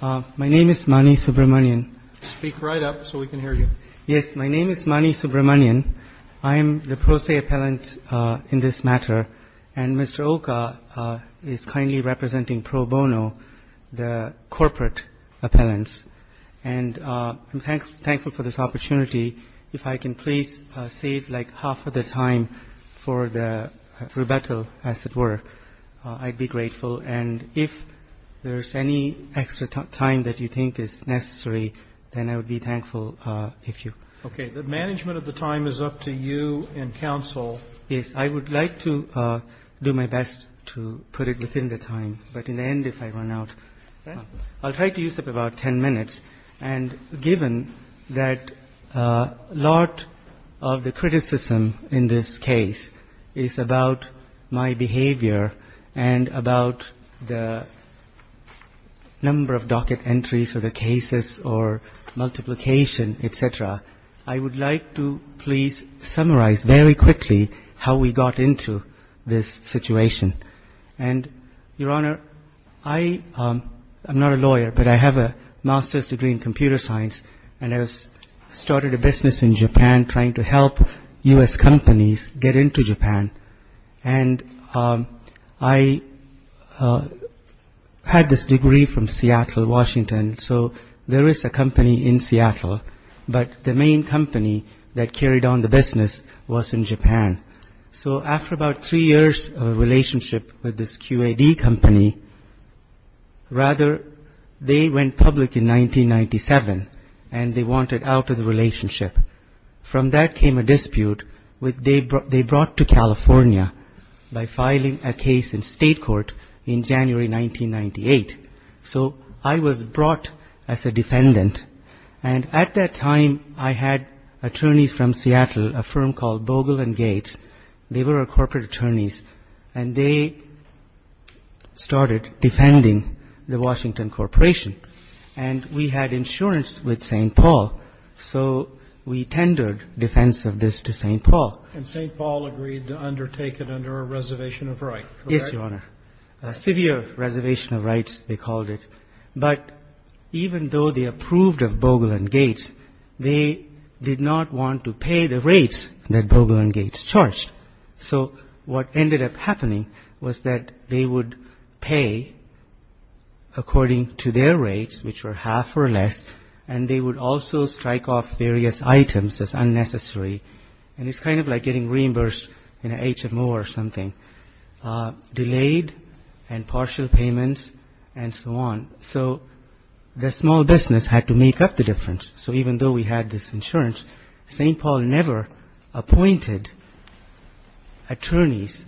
My name is Mani Subramanian. Speak right up so we can hear you. Yes, my name is Mani Subramanian. I am the pro se appellant in this matter, and Mr. Oka is kindly representing Pro Bono, the corporate appellants. And I'm thankful for this opportunity. If I can please save like half of the time for the rebuttal, as it were, I'd be grateful. And if there's any extra time that you think is necessary, then I would be thankful if you. Okay. The management of the time is up to you and counsel. Yes, I would like to do my best to put it within the time. But in the end, if I run out, I'll try to use up about 10 minutes. And given that a lot of the criticism in this case is about my behavior and about the number of docket entries or the cases or multiplication, et cetera, I would like to please summarize very quickly how we got into this situation. And, Your Honor, I am not a lawyer, but I have a master's degree in computer science, and I started a business in Japan trying to help U.S. companies get into Japan. And I had this degree from Seattle, Washington. So there is a company in Seattle, but the main company that carried on the business was in Japan. So after about three years of a relationship with this QAD company, rather, they went public in 1997, and they wanted out of the relationship. From that came a dispute. They brought to California by filing a case in state court in January 1998. So I was brought as a defendant. And at that time, I had attorneys from Seattle, a firm called Bogle and Gates. They were our corporate attorneys, and they started defending the Washington Corporation. And we had insurance with St. Paul, so we tendered defense of this to St. Paul. And St. Paul agreed to undertake it under a reservation of rights, correct? Yes, Your Honor. A severe reservation of rights, they called it. But even though they approved of Bogle and Gates, they did not want to pay the rates that Bogle and Gates charged. So what ended up happening was that they would pay according to their rates, which were half or less, and they would also strike off various items as unnecessary. And it's kind of like getting reimbursed in an HMO or something. Delayed and partial payments and so on. So the small business had to make up the difference. So even though we had this insurance, St. Paul never appointed attorneys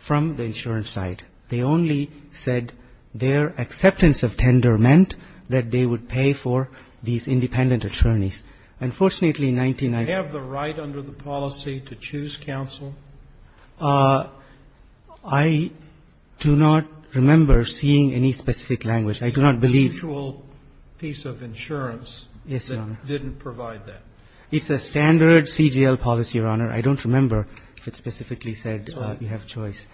from the insurance side. They only said their acceptance of tender meant that they would pay for these independent attorneys. Unfortunately, in 1999 ---- Do they have the right under the policy to choose counsel? I do not remember seeing any specific language. I do not believe ---- A mutual piece of insurance that didn't provide that. Yes, Your Honor. It's a standard CGL policy, Your Honor. I don't remember if it specifically said you have a choice.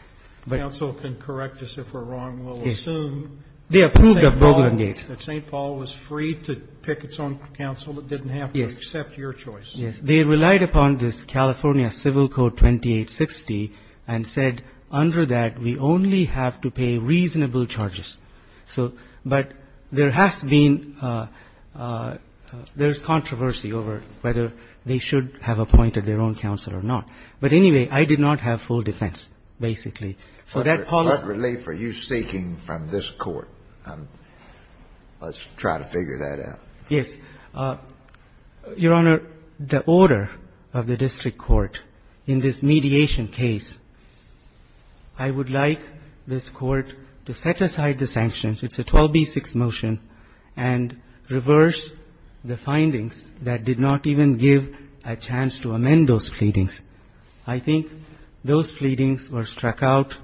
Counsel can correct us if we're wrong. We'll assume that St. Paul was free to pick its own counsel. It didn't have to accept your choice. Yes. They relied upon this California Civil Code 2860 and said under that we only have to pay reasonable charges. So but there has been ---- there's controversy over whether they should have appointed their own counsel or not. But anyway, I did not have full defense, basically. So that policy ---- What relief are you seeking from this Court? Let's try to figure that out. Yes. Your Honor, the order of the district court in this mediation case, I would like this Court to set aside the sanctions. It's a 12b-6 motion and reverse the findings that did not even give a chance to amend those pleadings. I think those pleadings were struck out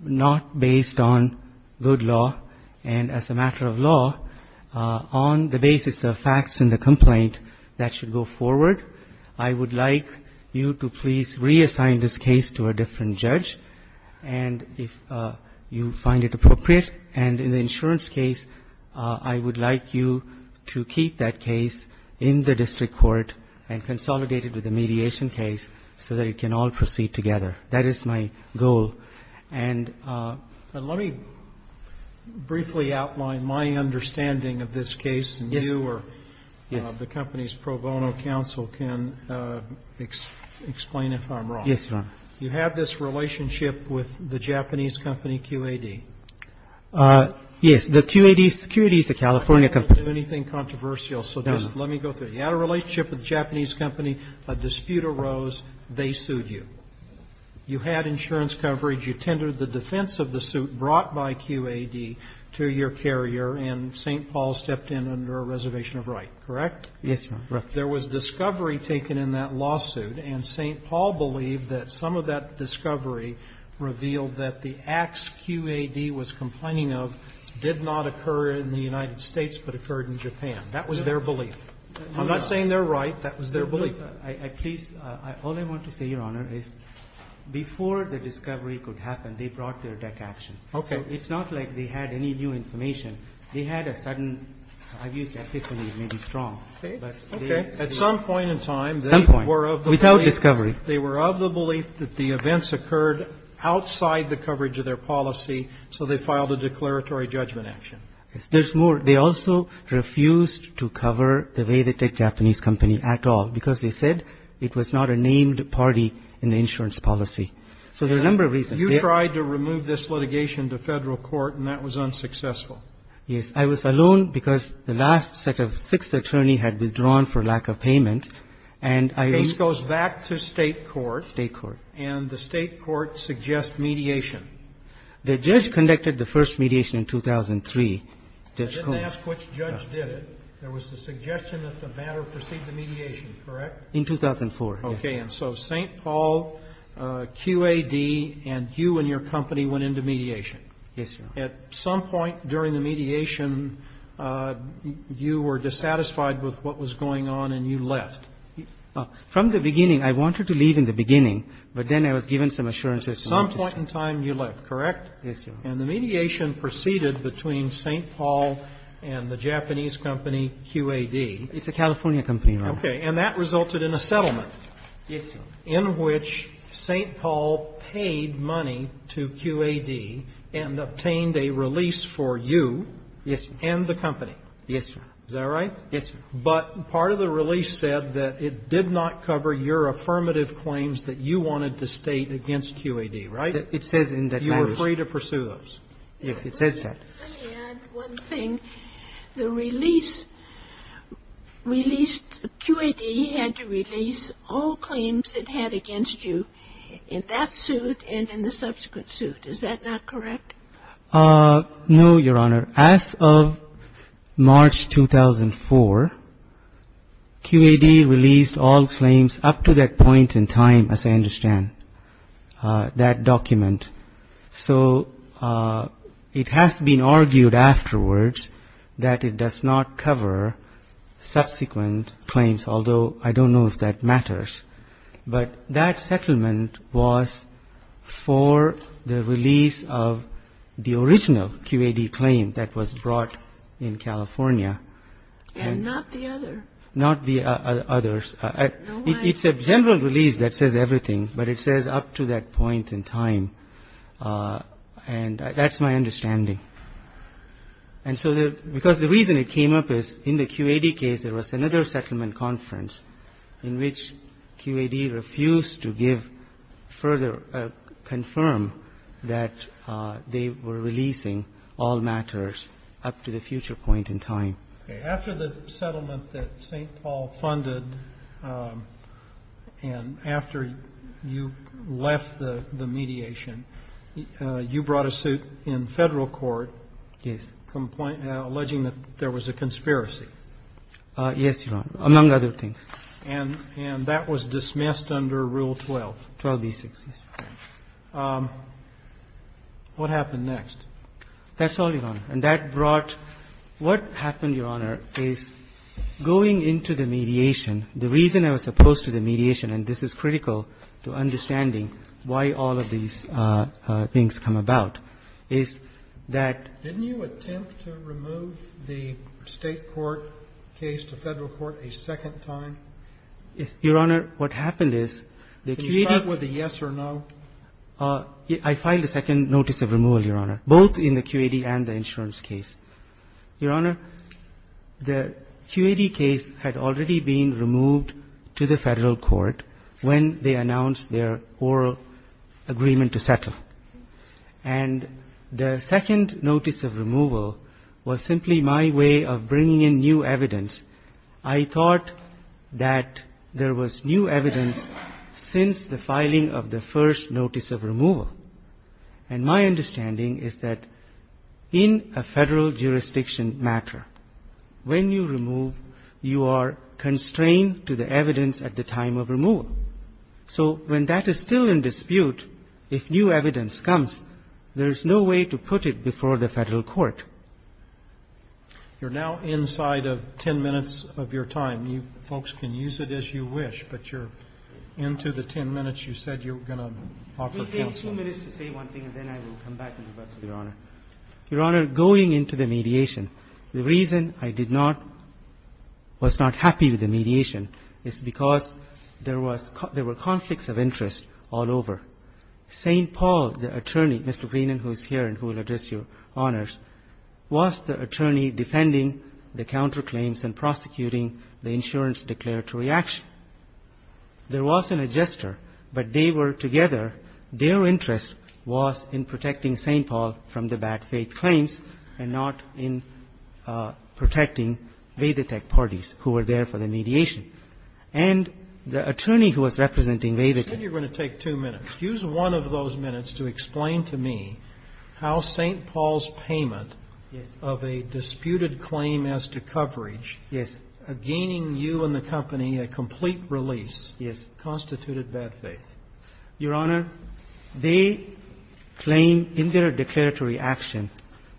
not based on good law and as a matter of law on the basis of facts in the complaint that should go forward. I would like you to please reassign this case to a different judge and if you find it appropriate. And in the insurance case, I would like you to keep that case in the district court and consolidate it with the mediation case so that it can all proceed together. That is my goal. And let me briefly outline my understanding of this case. Yes. And you or the company's pro bono counsel can explain if I'm wrong. Yes, Your Honor. You had this relationship with the Japanese company QAD. Yes. The QAD is a California company. I don't want to do anything controversial, so just let me go through it. You had a relationship with the Japanese company. A dispute arose. They sued you. You had insurance coverage. You tendered the defense of the suit brought by QAD to your carrier, and St. Paul stepped in under a reservation of right, correct? Yes, Your Honor. Correct. There was discovery taken in that lawsuit, and St. Paul believed that some of that discovery revealed that the acts QAD was complaining of did not occur in the United States but occurred in Japan. That was their belief. I'm not saying they're right. That was their belief. All I want to say, Your Honor, is before the discovery could happen, they brought their tech action. Okay. It's not like they had any new information. They had a sudden, I've used epiphany, maybe strong. Okay. Okay. At some point in time, they were of the belief. Some point. Without discovery. They were of the belief that the events occurred outside the coverage of their policy, so they filed a declaratory judgment action. There's more. They also refused to cover the way they took Japanese company at all, because they said it was not a named party in the insurance policy. So there are a number of reasons. You tried to remove this litigation to Federal court, and that was unsuccessful. Yes. I was alone because the last set of sixth attorney had withdrawn for lack of payment, and I was. This goes back to State court. State court. And the State court suggests mediation. The judge conducted the first mediation in 2003. I didn't ask which judge did it. There was the suggestion that the matter proceed to mediation, correct? In 2004, yes. Okay. And so St. Paul, QAD, and you and your company went into mediation. Yes, Your Honor. At some point during the mediation, you were dissatisfied with what was going on and you left. From the beginning, I wanted to leave in the beginning, but then I was given some At some point in time, you left, correct? Yes, Your Honor. And the mediation proceeded between St. Paul and the Japanese company QAD. It's a California company, Your Honor. Okay. And that resulted in a settlement. Yes, Your Honor. In which St. Paul paid money to QAD and obtained a release for you. Yes, Your Honor. And the company. Yes, Your Honor. Is that right? Yes, Your Honor. But part of the release said that it did not cover your affirmative claims that you wanted to state against QAD, right? It says in that notice. You were free to pursue those. Yes, it says that. Let me add one thing. The release released, QAD had to release all claims it had against you in that suit and in the subsequent suit. Is that not correct? No, Your Honor. As of March 2004, QAD released all claims up to that point in time, as I understand it, in that document. So it has been argued afterwards that it does not cover subsequent claims, although I don't know if that matters. But that settlement was for the release of the original QAD claim that was brought in California. Not the others. No way. It's a general release that says everything, but it says up to that point in time. And that's my understanding. And so because the reason it came up is in the QAD case, there was another settlement conference in which QAD refused to give further, confirm that they were releasing all matters up to the future point in time. Okay. After the settlement that St. Paul funded and after you left the mediation, you brought a suit in Federal court alleging that there was a conspiracy. Yes, Your Honor, among other things. And that was dismissed under Rule 12. 12b-6, yes. What happened next? That's all, Your Honor. And that brought what happened, Your Honor, is going into the mediation. The reason I was opposed to the mediation, and this is critical to understanding why all of these things come about, is that you attempt to remove the State court case to Federal court a second time? Your Honor, what happened is the QAD. Can you start with a yes or no? I filed a second notice of removal, Your Honor, both in the QAD and the insurance case. Your Honor, the QAD case had already been removed to the Federal court when they announced their oral agreement to settle. And the second notice of removal was simply my way of bringing in new evidence. I thought that there was new evidence since the filing of the first notice of removal. And my understanding is that in a Federal jurisdiction matter, when you remove, you are constrained to the evidence at the time of removal. So when that is still in dispute, if new evidence comes, there is no way to put it before the Federal court. You're now inside of 10 minutes of your time. You folks can use it as you wish, but you're into the 10 minutes. You said you were going to offer counsel. We'll take two minutes to say one thing, and then I will come back to you, Your Honor. Your Honor, going into the mediation, the reason I did not was not happy with the mediation is because there was conflicts of interest all over. St. Paul, the attorney, Mr. Greenan, who is here and who will address Your Honors, was the attorney defending the counterclaims and prosecuting the insurance declaratory action. There was an adjuster, but they were together. Their interest was in protecting St. Paul from the bad faith claims and not in protecting Vedetech parties who were there for the mediation. If you could use one of those minutes to explain to me how St. Paul's payment of a disputed claim as to coverage, gaining you and the company a complete release, constituted bad faith. Your Honor, they claim in their declaratory action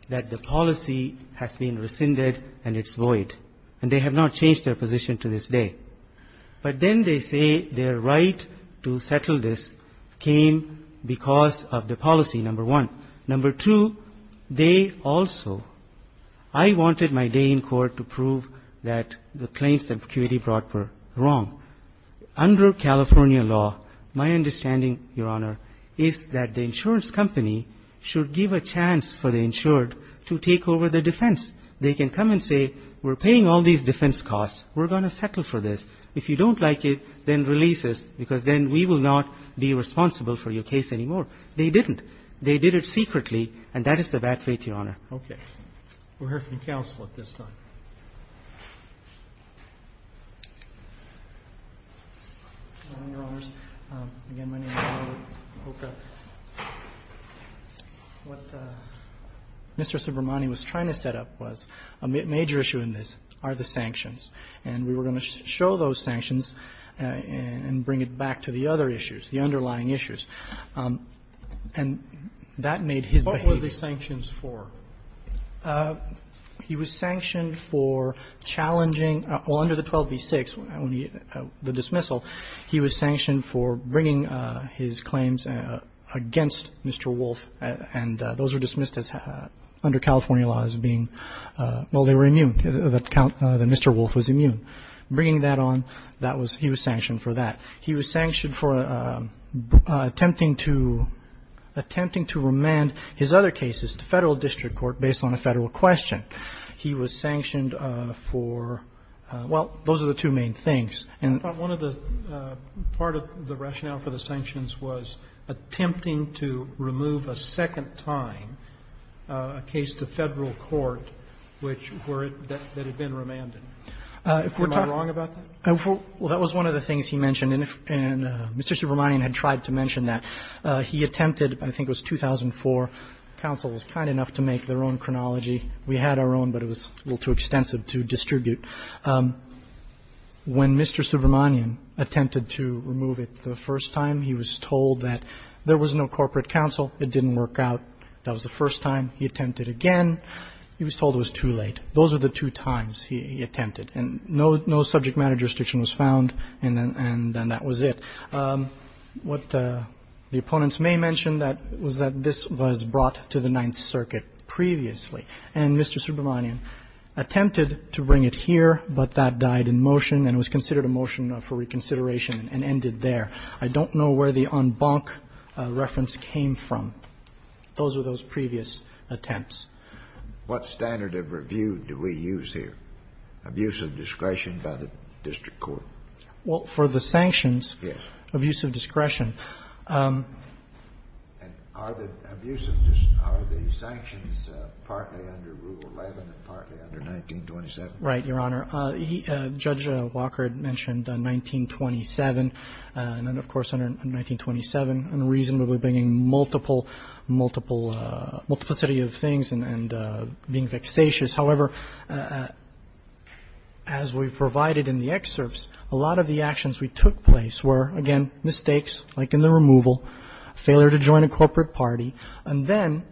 that the policy has been rescinded and it's void. And they have not changed their position to this day. But then they say their right to settle this came because of the policy, number one. Number two, they also – I wanted my day in court to prove that the claims that Vedetech brought were wrong. Under California law, my understanding, Your Honor, is that the insurance company should give a chance for the insured to take over the defense. They can come and say, we're paying all these defense costs. We're going to settle for this. If you don't like it, then release us, because then we will not be responsible for your case anymore. They didn't. They did it secretly, and that is the bad faith, Your Honor. Roberts. We'll hear from counsel at this time. What Mr. Subramanian was trying to set up was a major issue in this are the sanctions. And we were going to show those sanctions and bring it back to the other issues, the underlying issues. And that made his behavior – What were the sanctions for? He was sanctioned for challenging – well, under the 12b-6, the dismissal, he was sanctioned for bringing his claims against Mr. Wolf, and those were dismissed as under California law as being – well, they were immune, that Mr. Wolf was immune. Bringing that on, that was – he was sanctioned for that. He was sanctioned for attempting to remand his other cases to Federal district court based on a Federal question. He was sanctioned for – well, those are the two main things. I thought one of the – part of the rationale for the sanctions was attempting to remove a second time a case to Federal court which were – that had been remanded. Am I wrong about that? Well, that was one of the things he mentioned. And Mr. Subramanian had tried to mention that. He attempted – I think it was 2004. Counsel was kind enough to make their own chronology. We had our own, but it was a little too extensive to distribute. When Mr. Subramanian attempted to remove it the first time, he was told that there was no corporate counsel. It didn't work out. That was the first time. He attempted again. He was told it was too late. Those were the two times he attempted. And no subject matter restriction was found, and then that was it. What the opponents may mention was that this was brought to the Ninth Circuit previously. And Mr. Subramanian attempted to bring it here, but that died in motion and was considered a motion for reconsideration and ended there. I don't know where the en banc reference came from. Those were those previous attempts. What standard of review do we use here? Abuse of discretion by the district court. Well, for the sanctions. Yes. Abuse of discretion. Are the sanctions partly under Rule 11 and partly under 1927? Right, Your Honor. Judge Walker had mentioned 1927, and then, of course, under 1927. We're bringing multiple, multiplicity of things and being vexatious. However, as we provided in the excerpts, a lot of the actions we took place were, again, mistakes like in the removal, failure to join a corporate party, and then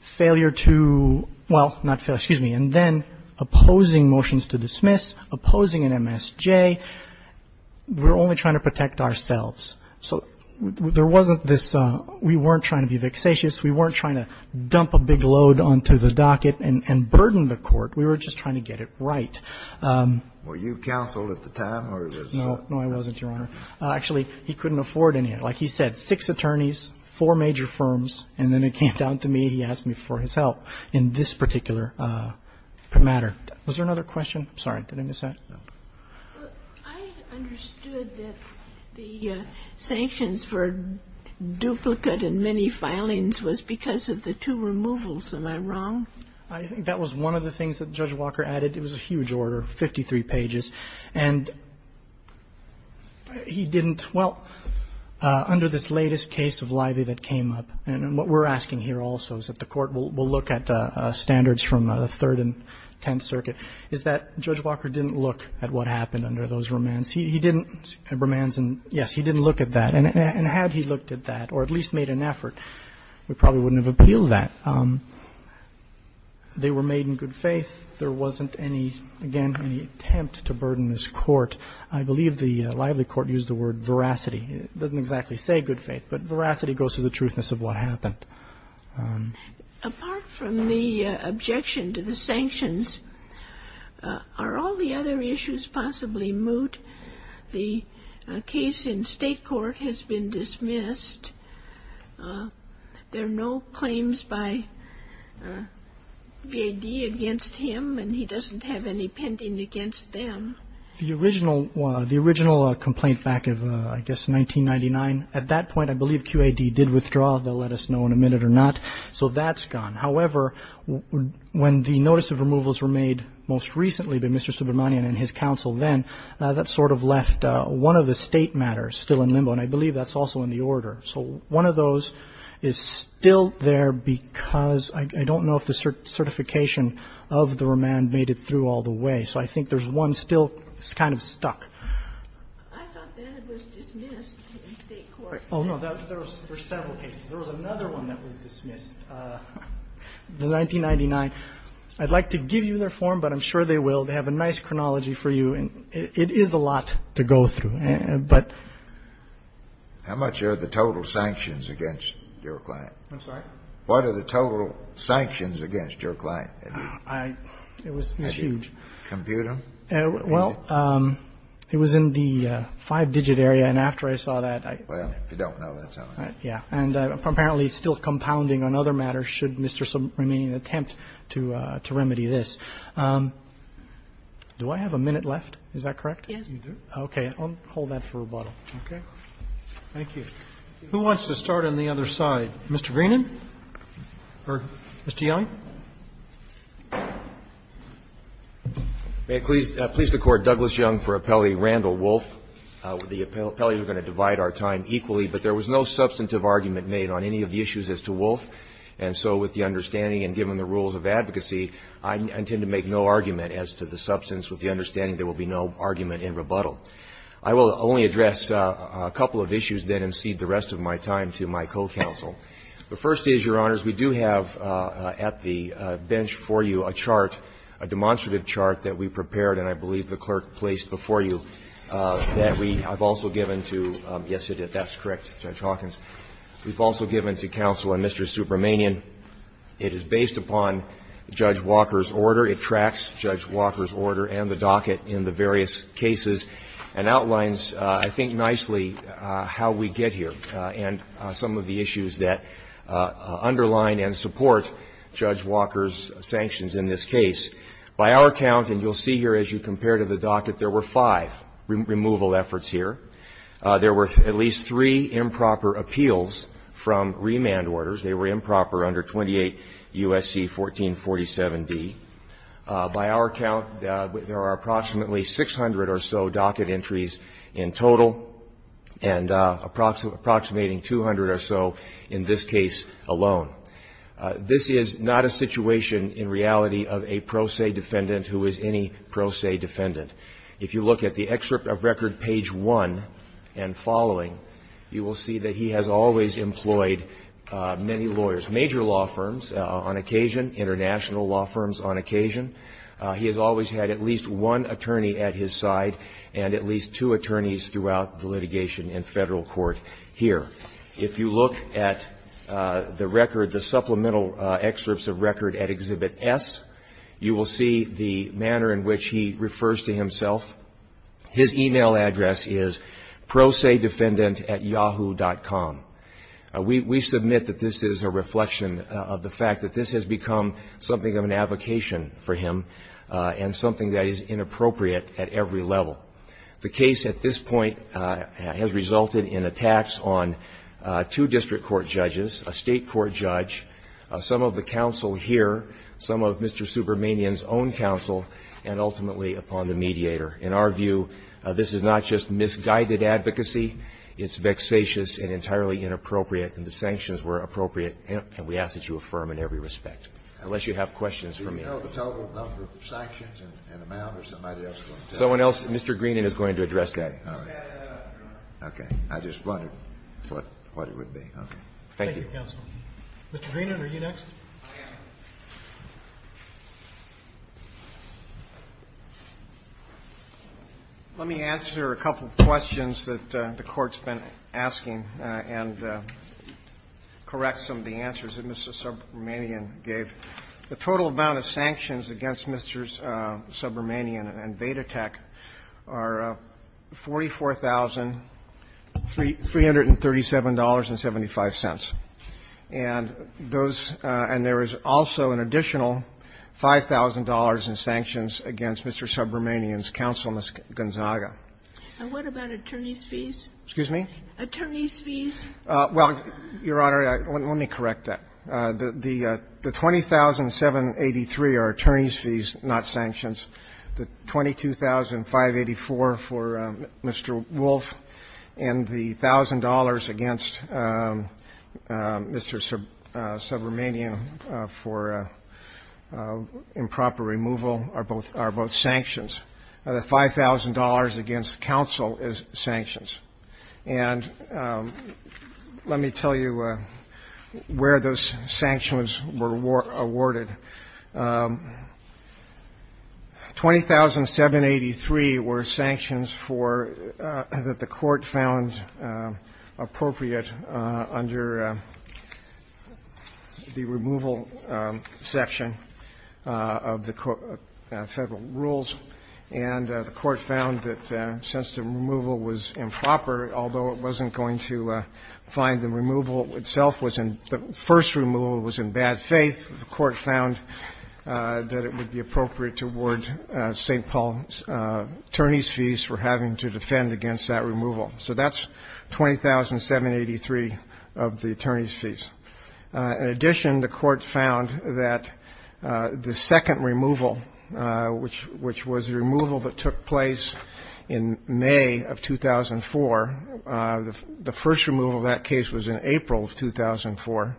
failure to, well, not failure, excuse me, and then opposing motions to dismiss, opposing an MSJ. We're only trying to protect ourselves. So there wasn't this we weren't trying to be vexatious. We weren't trying to dump a big load onto the docket and burden the court. We were just trying to get it right. Were you counsel at the time? No. No, I wasn't, Your Honor. Actually, he couldn't afford any. Like he said, six attorneys, four major firms, and then it came down to me. He asked me for his help in this particular matter. Was there another question? I'm sorry. Did I miss that? No. I understood that the sanctions for duplicate and many filings was because of the two removals. Am I wrong? I think that was one of the things that Judge Walker added. It was a huge order, 53 pages. And he didn't, well, under this latest case of Livy that came up, and what we're asking here also is that the Court will look at standards from the Third and Tenth Circuit, is that Judge Walker didn't look at what happened under those remands. He didn't, remands and yes, he didn't look at that. And had he looked at that or at least made an effort, we probably wouldn't have appealed that. They were made in good faith. There wasn't any, again, any attempt to burden this court. I believe the Lively court used the word veracity. It doesn't exactly say good faith, but veracity goes to the truthness of what happened. Apart from the objection to the sanctions, are all the other issues possibly moot? The case in state court has been dismissed. There are no claims by V.A.D. against him, and he doesn't have any pending against them. The original complaint back of, I guess, 1999, at that point I believe Q.A.D. did withdraw. They'll let us know in a minute or not. So that's gone. However, when the notice of removals were made most recently by Mr. Subramanian and his counsel then, that sort of left one of the state matters still in limbo, and I believe that's also in the order. So one of those is still there because I don't know if the certification of the remand made it through all the way. So I think there's one still kind of stuck. I thought V.A.D. was dismissed in state court. Oh, no. There were several cases. There was another one that was dismissed, the 1999. I'd like to give you their form, but I'm sure they will. They have a nice chronology for you, and it is a lot to go through. But ---- How much are the total sanctions against your client? I'm sorry? What are the total sanctions against your client? I ---- It was huge. Did you compute them? Well, it was in the five-digit area, and after I saw that, I ---- Well, if you don't know, that's all right. Yeah. And apparently it's still compounding on other matters, should Mr. Subramanian attempt to remedy this. Do I have a minute left? Is that correct? Yes, you do. Okay. I'll hold that for rebuttal. Okay. Thank you. Who wants to start on the other side? Mr. Greenan or Mr. Yellen? May it please the Court, Douglas Young for Appellee Randall Wolfe. The appellees are going to divide our time equally, but there was no substantive argument made on any of the issues as to Wolfe, and so with the understanding and given the rules of advocacy, I intend to make no argument as to the substance with the understanding there will be no argument in rebuttal. I will only address a couple of issues then and cede the rest of my time to my co-counsel. The first is, Your Honors, we do have at the bench for you a chart, a demonstrative chart that we prepared and I believe the clerk placed before you that we have also given to, yes, you did, that's correct, Judge Hawkins. We've also given to counsel and Mr. Subramanian. It is based upon Judge Walker's order. It tracks Judge Walker's order and the docket in the various cases and outlines, I think, nicely how we get here and some of the issues that underline and support Judge Walker's sanctions in this case. By our count, and you'll see here as you compare to the docket, there were five removal efforts here. There were at least three improper appeals from remand orders. They were improper under 28 U.S.C. 1447d. By our count, there are approximately 600 or so docket entries in total and approximating 200 or so in this case alone. This is not a situation in reality of a pro se defendant who is any pro se defendant. If you look at the excerpt of record page one and following, you will see that he has always employed many lawyers, major law firms on occasion, international law firms on occasion. He has always had at least one attorney at his side and at least two attorneys throughout the litigation in federal court here. If you look at the record, the supplemental excerpts of record at Exhibit S, you will see the manner in which he refers to himself. His e-mail address is prosedefendantatyahoo.com. We submit that this is a reflection of the fact that this has become something of an advocation for him and something that is inappropriate at every level. The case at this point has resulted in attacks on two district court judges, a state court judge, some of the counsel here, some of Mr. Subramanian's own counsel, and ultimately upon the mediator. In our view, this is not just misguided advocacy. It's vexatious and entirely inappropriate, and the sanctions were appropriate, and we ask that you affirm in every respect, unless you have questions for me. Kennedy. Do you know the total number of sanctions and amount or somebody else is going to tell you? Someone else. Mr. Greenan is going to address that. Okay. All right. Okay. I just wondered what it would be. Okay. Thank you, Counsel. Mr. Greenan, are you next? Let me answer a couple of questions that the Court's been asking and correct some of the answers that Mr. Subramanian gave. The total amount of sanctions against Mr. Subramanian and Vedatek are $44,337.75. And those – and there is also an additional $5,000 in sanctions against Mr. Subramanian's counsel, Ms. Gonzaga. And what about attorney's fees? Excuse me? Attorney's fees? Well, Your Honor, let me correct that. The 20,783 are attorney's fees, not sanctions. The 22,584 for Mr. Wolf and the $1,000 against Mr. Subramanian for improper removal are both sanctions. The $5,000 against counsel is sanctions. And let me tell you where those sanctions were awarded. 20,783 were sanctions for – that the Court found appropriate under the removal section of the federal rules. And the Court found that since the removal was improper, although it wasn't going to find the removal itself was in – the first removal was in bad faith, the Court found that it would be appropriate to award St. Paul's attorney's fees for having to defend against that removal. So that's 20,783 of the attorney's fees. In addition, the Court found that the second removal, which was the removal that took place in May of 2004, the first removal of that case was in April of 2004.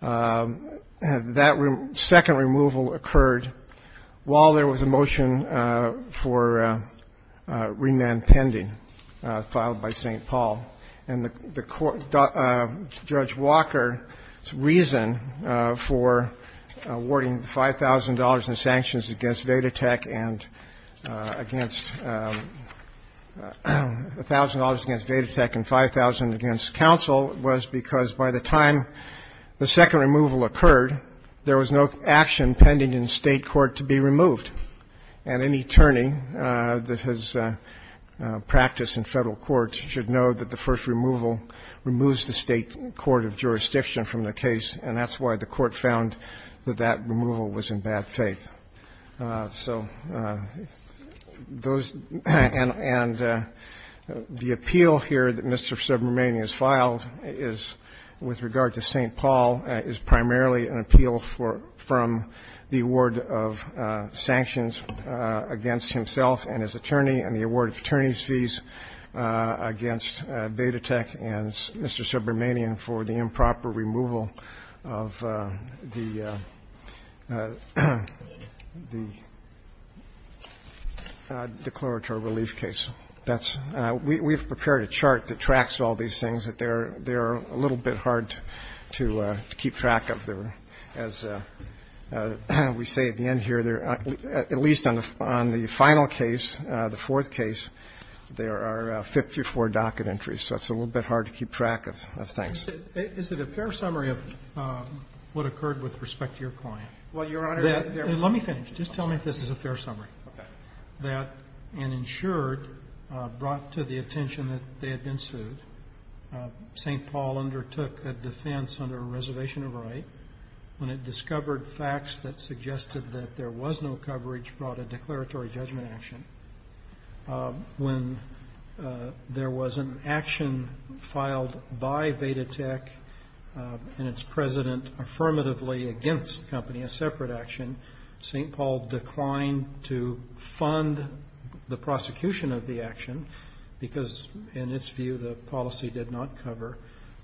That second removal occurred while there was a motion for remand pending filed by St. Paul. And the Court – Judge Walker's reason for awarding the $5,000 in sanctions against Vedatech and against – $1,000 against Vedatech and $5,000 against counsel was because by the time the second removal occurred, there was no action pending in State court to be removed. And any attorney that has practiced in Federal courts should know that the first removal removes the State court of jurisdiction from the case, and that's why the Court found that that removal was in bad faith. So those – and the appeal here that Mr. Subramanian has filed is, with regard to St. Paul, is primarily an appeal for – from the award of sanctions against himself and his attorney and the award of attorney's fees against Vedatech and Mr. Subramanian for the improper removal of the – the declaratory relief case. That's – we've prepared a chart that tracks all these things that they're – they're a little bit hard to keep track of. As we say at the end here, at least on the final case, the fourth case, there are 54 docket entries, so it's a little bit hard to keep track of things. Is it a fair summary of what occurred with respect to your client? Well, Your Honor, there are – Let me finish. Just tell me if this is a fair summary. Okay. That an insured brought to the attention that they had been sued, St. Paul and Vedatech undertook a defense under a reservation of right when it discovered facts that suggested that there was no coverage brought a declaratory judgment action. When there was an action filed by Vedatech and its president affirmatively against the company, a separate action, St. Paul declined to fund the prosecution of the action because, in its view, the policy did not cover.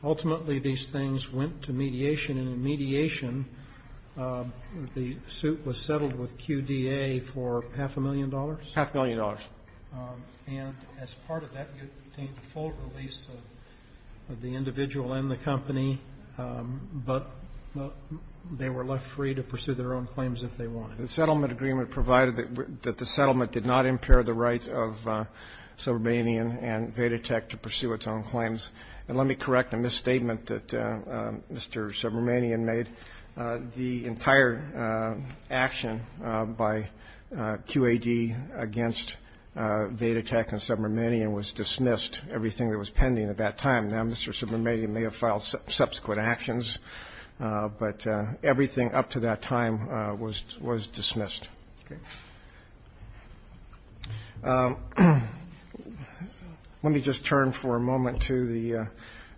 Ultimately, these things went to mediation, and in mediation, the suit was settled with QDA for half a million dollars? Half a million dollars. And as part of that, you obtained a full release of the individual and the company, but they were left free to pursue their own claims if they wanted. The settlement agreement provided that the settlement did not impair the rights of Subramanian and Vedatech to pursue its own claims. And let me correct a misstatement that Mr. Subramanian made. The entire action by QAD against Vedatech and Subramanian was dismissed, everything that was pending at that time. Now, Mr. Subramanian may have filed subsequent actions, but everything up to that time was dismissed. Let me just turn for a moment to the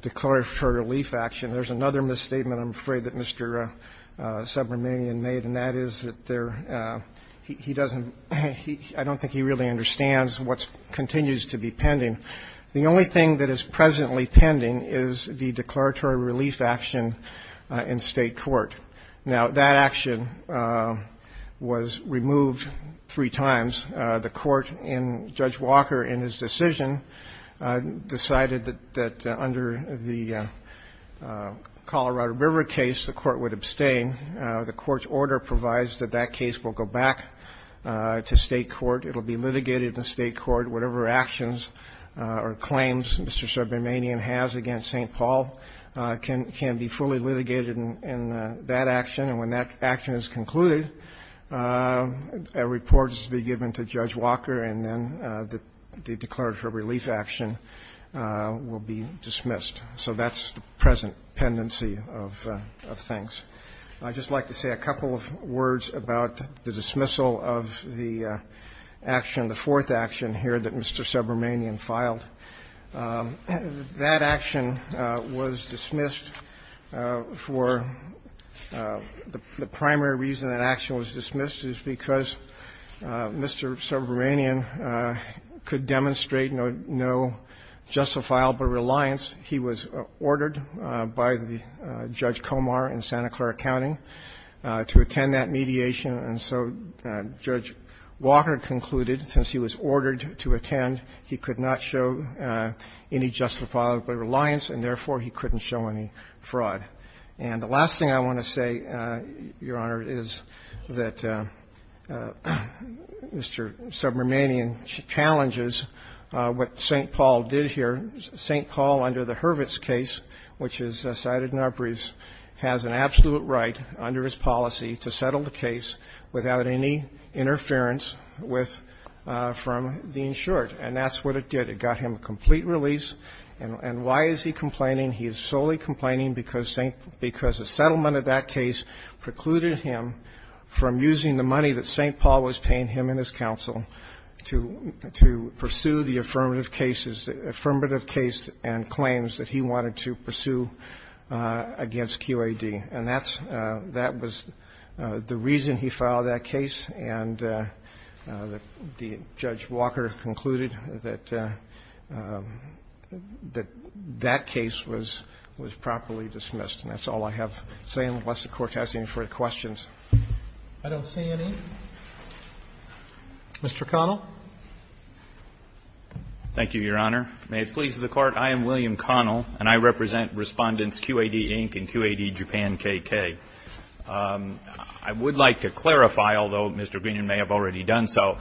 declaratory relief action. There's another misstatement, I'm afraid, that Mr. Subramanian made, and that is that there he doesn't he I don't think he really understands what continues to be pending. The only thing that is presently pending is the declaratory relief action in State Court. Now, that action was removed three times. The court in Judge Walker, in his decision, decided that under the Colorado River case, the court would abstain. The court's order provides that that case will go back to State Court. It will be litigated in State Court. Whatever actions or claims Mr. Subramanian has against St. Paul can be fully litigated in that action, and when that action is concluded, a report is to be given to Judge Walker, and then the declaratory relief action will be dismissed. So that's the present pendency of things. I'd just like to say a couple of words about the dismissal of the action, the fourth action here that Mr. Subramanian filed. That action was dismissed for the primary reason that action was dismissed is because Mr. Subramanian could demonstrate no justifiable reliance. He was ordered by the Judge Comar in Santa Clara County to attend that mediation, and so Judge Walker concluded, since he was ordered to attend, he could not show any justifiable reliance and, therefore, he couldn't show any fraud. And the last thing I want to say, Your Honor, is that Mr. Subramanian challenges what St. Paul did here. St. Paul, under the Hurwitz case, which is cited in Arbreeze, has an absolute right under his policy to settle the case without any interference with the insured, and that's what it did. It got him a complete release. And why is he complaining? He is solely complaining because St. — because the settlement of that case precluded him from using the money that St. Paul was paying him and his counsel to pursue the affirmative cases — affirmative case and claims that he wanted to pursue against QAD. And that's — that was the reason he filed that case, and the — the Judge Walker concluded that — that that case was — was properly dismissed. And that's all I have to say, unless the Court has any further questions. I don't see any. Mr. Connell. Thank you, Your Honor. May it please the Court, I am William Connell, and I represent Respondents QAD, Inc. and QAD Japan, KK. I would like to clarify, although Mr. Greenan may have already done so,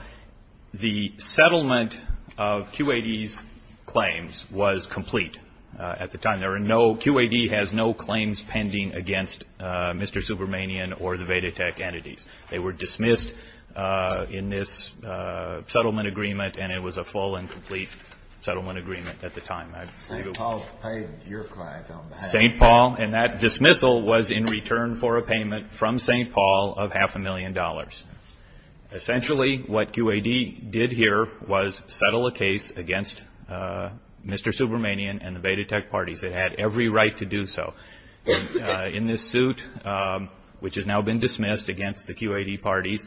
the settlement of QAD's claims was complete at the time. There are no — QAD has no claims pending against Mr. Zubermanian or the Vedatech entities. They were dismissed in this settlement agreement, and it was a full and complete settlement agreement at the time. St. Paul paid your client on behalf — St. Paul. And that dismissal was in return for a payment from St. Paul of half a million dollars. Essentially, what QAD did here was settle a case against Mr. Zubermanian and the Vedatech parties. It had every right to do so. In this suit, which has now been dismissed against the QAD parties,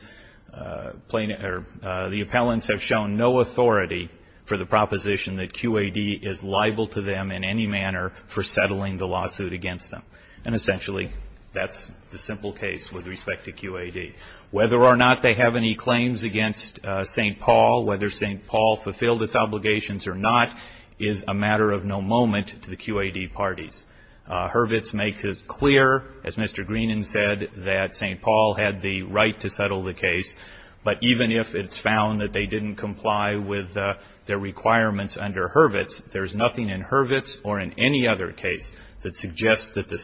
plaintiffs — or the appellants have shown no authority for the proposition that QAD is liable to them in any manner for settling the lawsuit against them. And essentially, that's the simple case with respect to QAD. Whether or not they have any claims against St. Paul, whether St. Paul fulfilled its obligations or not, is a matter of no moment to the QAD parties. Hurwitz makes it clear, as Mr. Greenan said, that St. Paul had the right to settle the case. But even if it's found that they didn't comply with their requirements under Hurwitz, there's nothing in Hurwitz or in any other case that suggests that the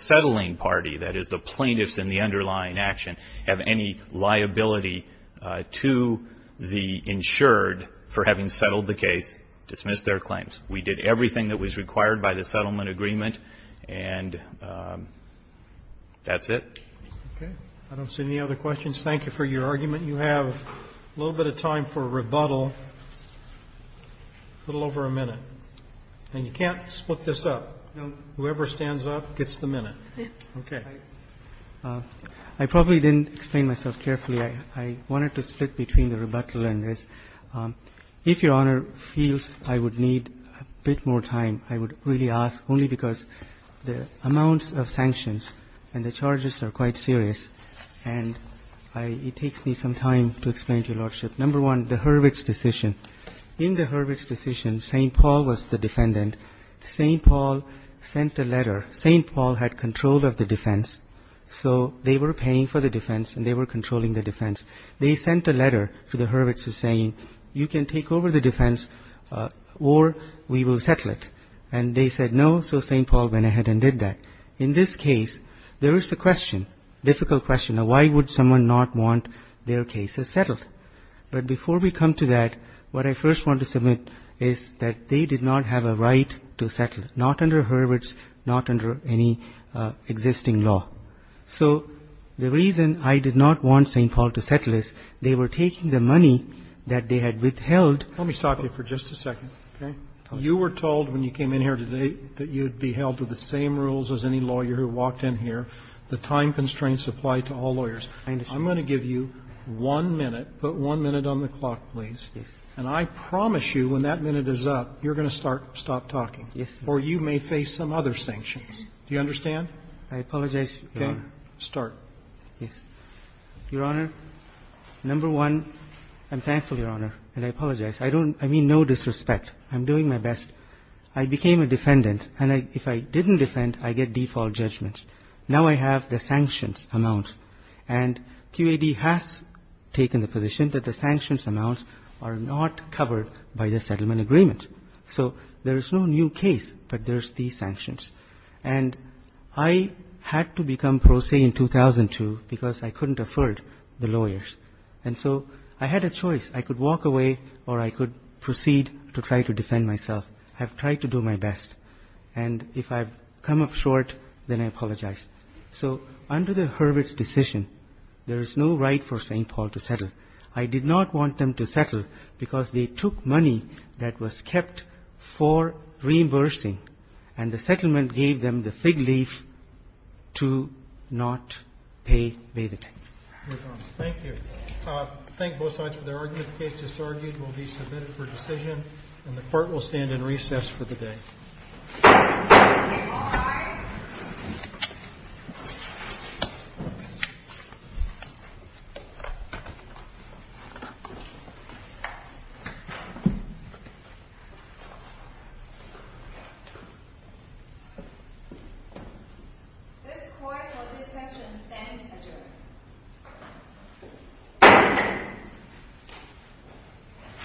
liability to the insured for having settled the case, dismiss their claims. We did everything that was required by the settlement agreement, and that's it. Okay. I don't see any other questions. Thank you for your argument. You have a little bit of time for rebuttal, a little over a minute. And you can't split this up. Whoever stands up gets the minute. Okay. I probably didn't explain myself carefully. I wanted to split between the rebuttal and this. If Your Honor feels I would need a bit more time, I would really ask only because the amounts of sanctions and the charges are quite serious. And it takes me some time to explain to you, Lordship. Number one, the Hurwitz decision. In the Hurwitz decision, St. Paul was the defendant. St. Paul sent a letter. St. Paul had control of the defense, so they were paying for the defense and they were controlling the defense. They sent a letter to the Hurwitz saying, you can take over the defense or we will settle it. And they said no, so St. Paul went ahead and did that. In this case, there is a question, difficult question, why would someone not want their cases settled? But before we come to that, what I first want to submit is that they did not have a right to settle, not under Hurwitz, not under any existing law. So the reason I did not want St. Paul to settle is they were taking the money that they had withheld. Roberts. Let me stop you for just a second, okay? You were told when you came in here today that you would be held to the same rules as any lawyer who walked in here. The time constraints apply to all lawyers. I'm going to give you one minute. Put one minute on the clock, please. Yes. Yes, Your Honor. Or you may face some other sanctions. Do you understand? I apologize, Your Honor. Okay. Start. Yes. Your Honor, number one, I'm thankful, Your Honor, and I apologize. I don't – I mean no disrespect. I'm doing my best. I became a defendant, and if I didn't defend, I get default judgments. Now I have the sanctions amount, and QAD has taken the position that the sanctions amounts are not covered by the settlement agreement. So there is no new case, but there's these sanctions. And I had to become pro se in 2002 because I couldn't afford the lawyers. And so I had a choice. I could walk away or I could proceed to try to defend myself. I've tried to do my best. And if I've come up short, then I apologize. So under the Hurwitz decision, there is no right for St. Paul to settle. I did not want them to settle because they took money that was kept for reimbursing, and the settlement gave them the fig leaf to not pay the tax. Your Honor. Thank you. Thank both sides for their arguments. The case is argued and will be submitted for decision, and the court will stand in recess for the day. This court for this session stands adjourned.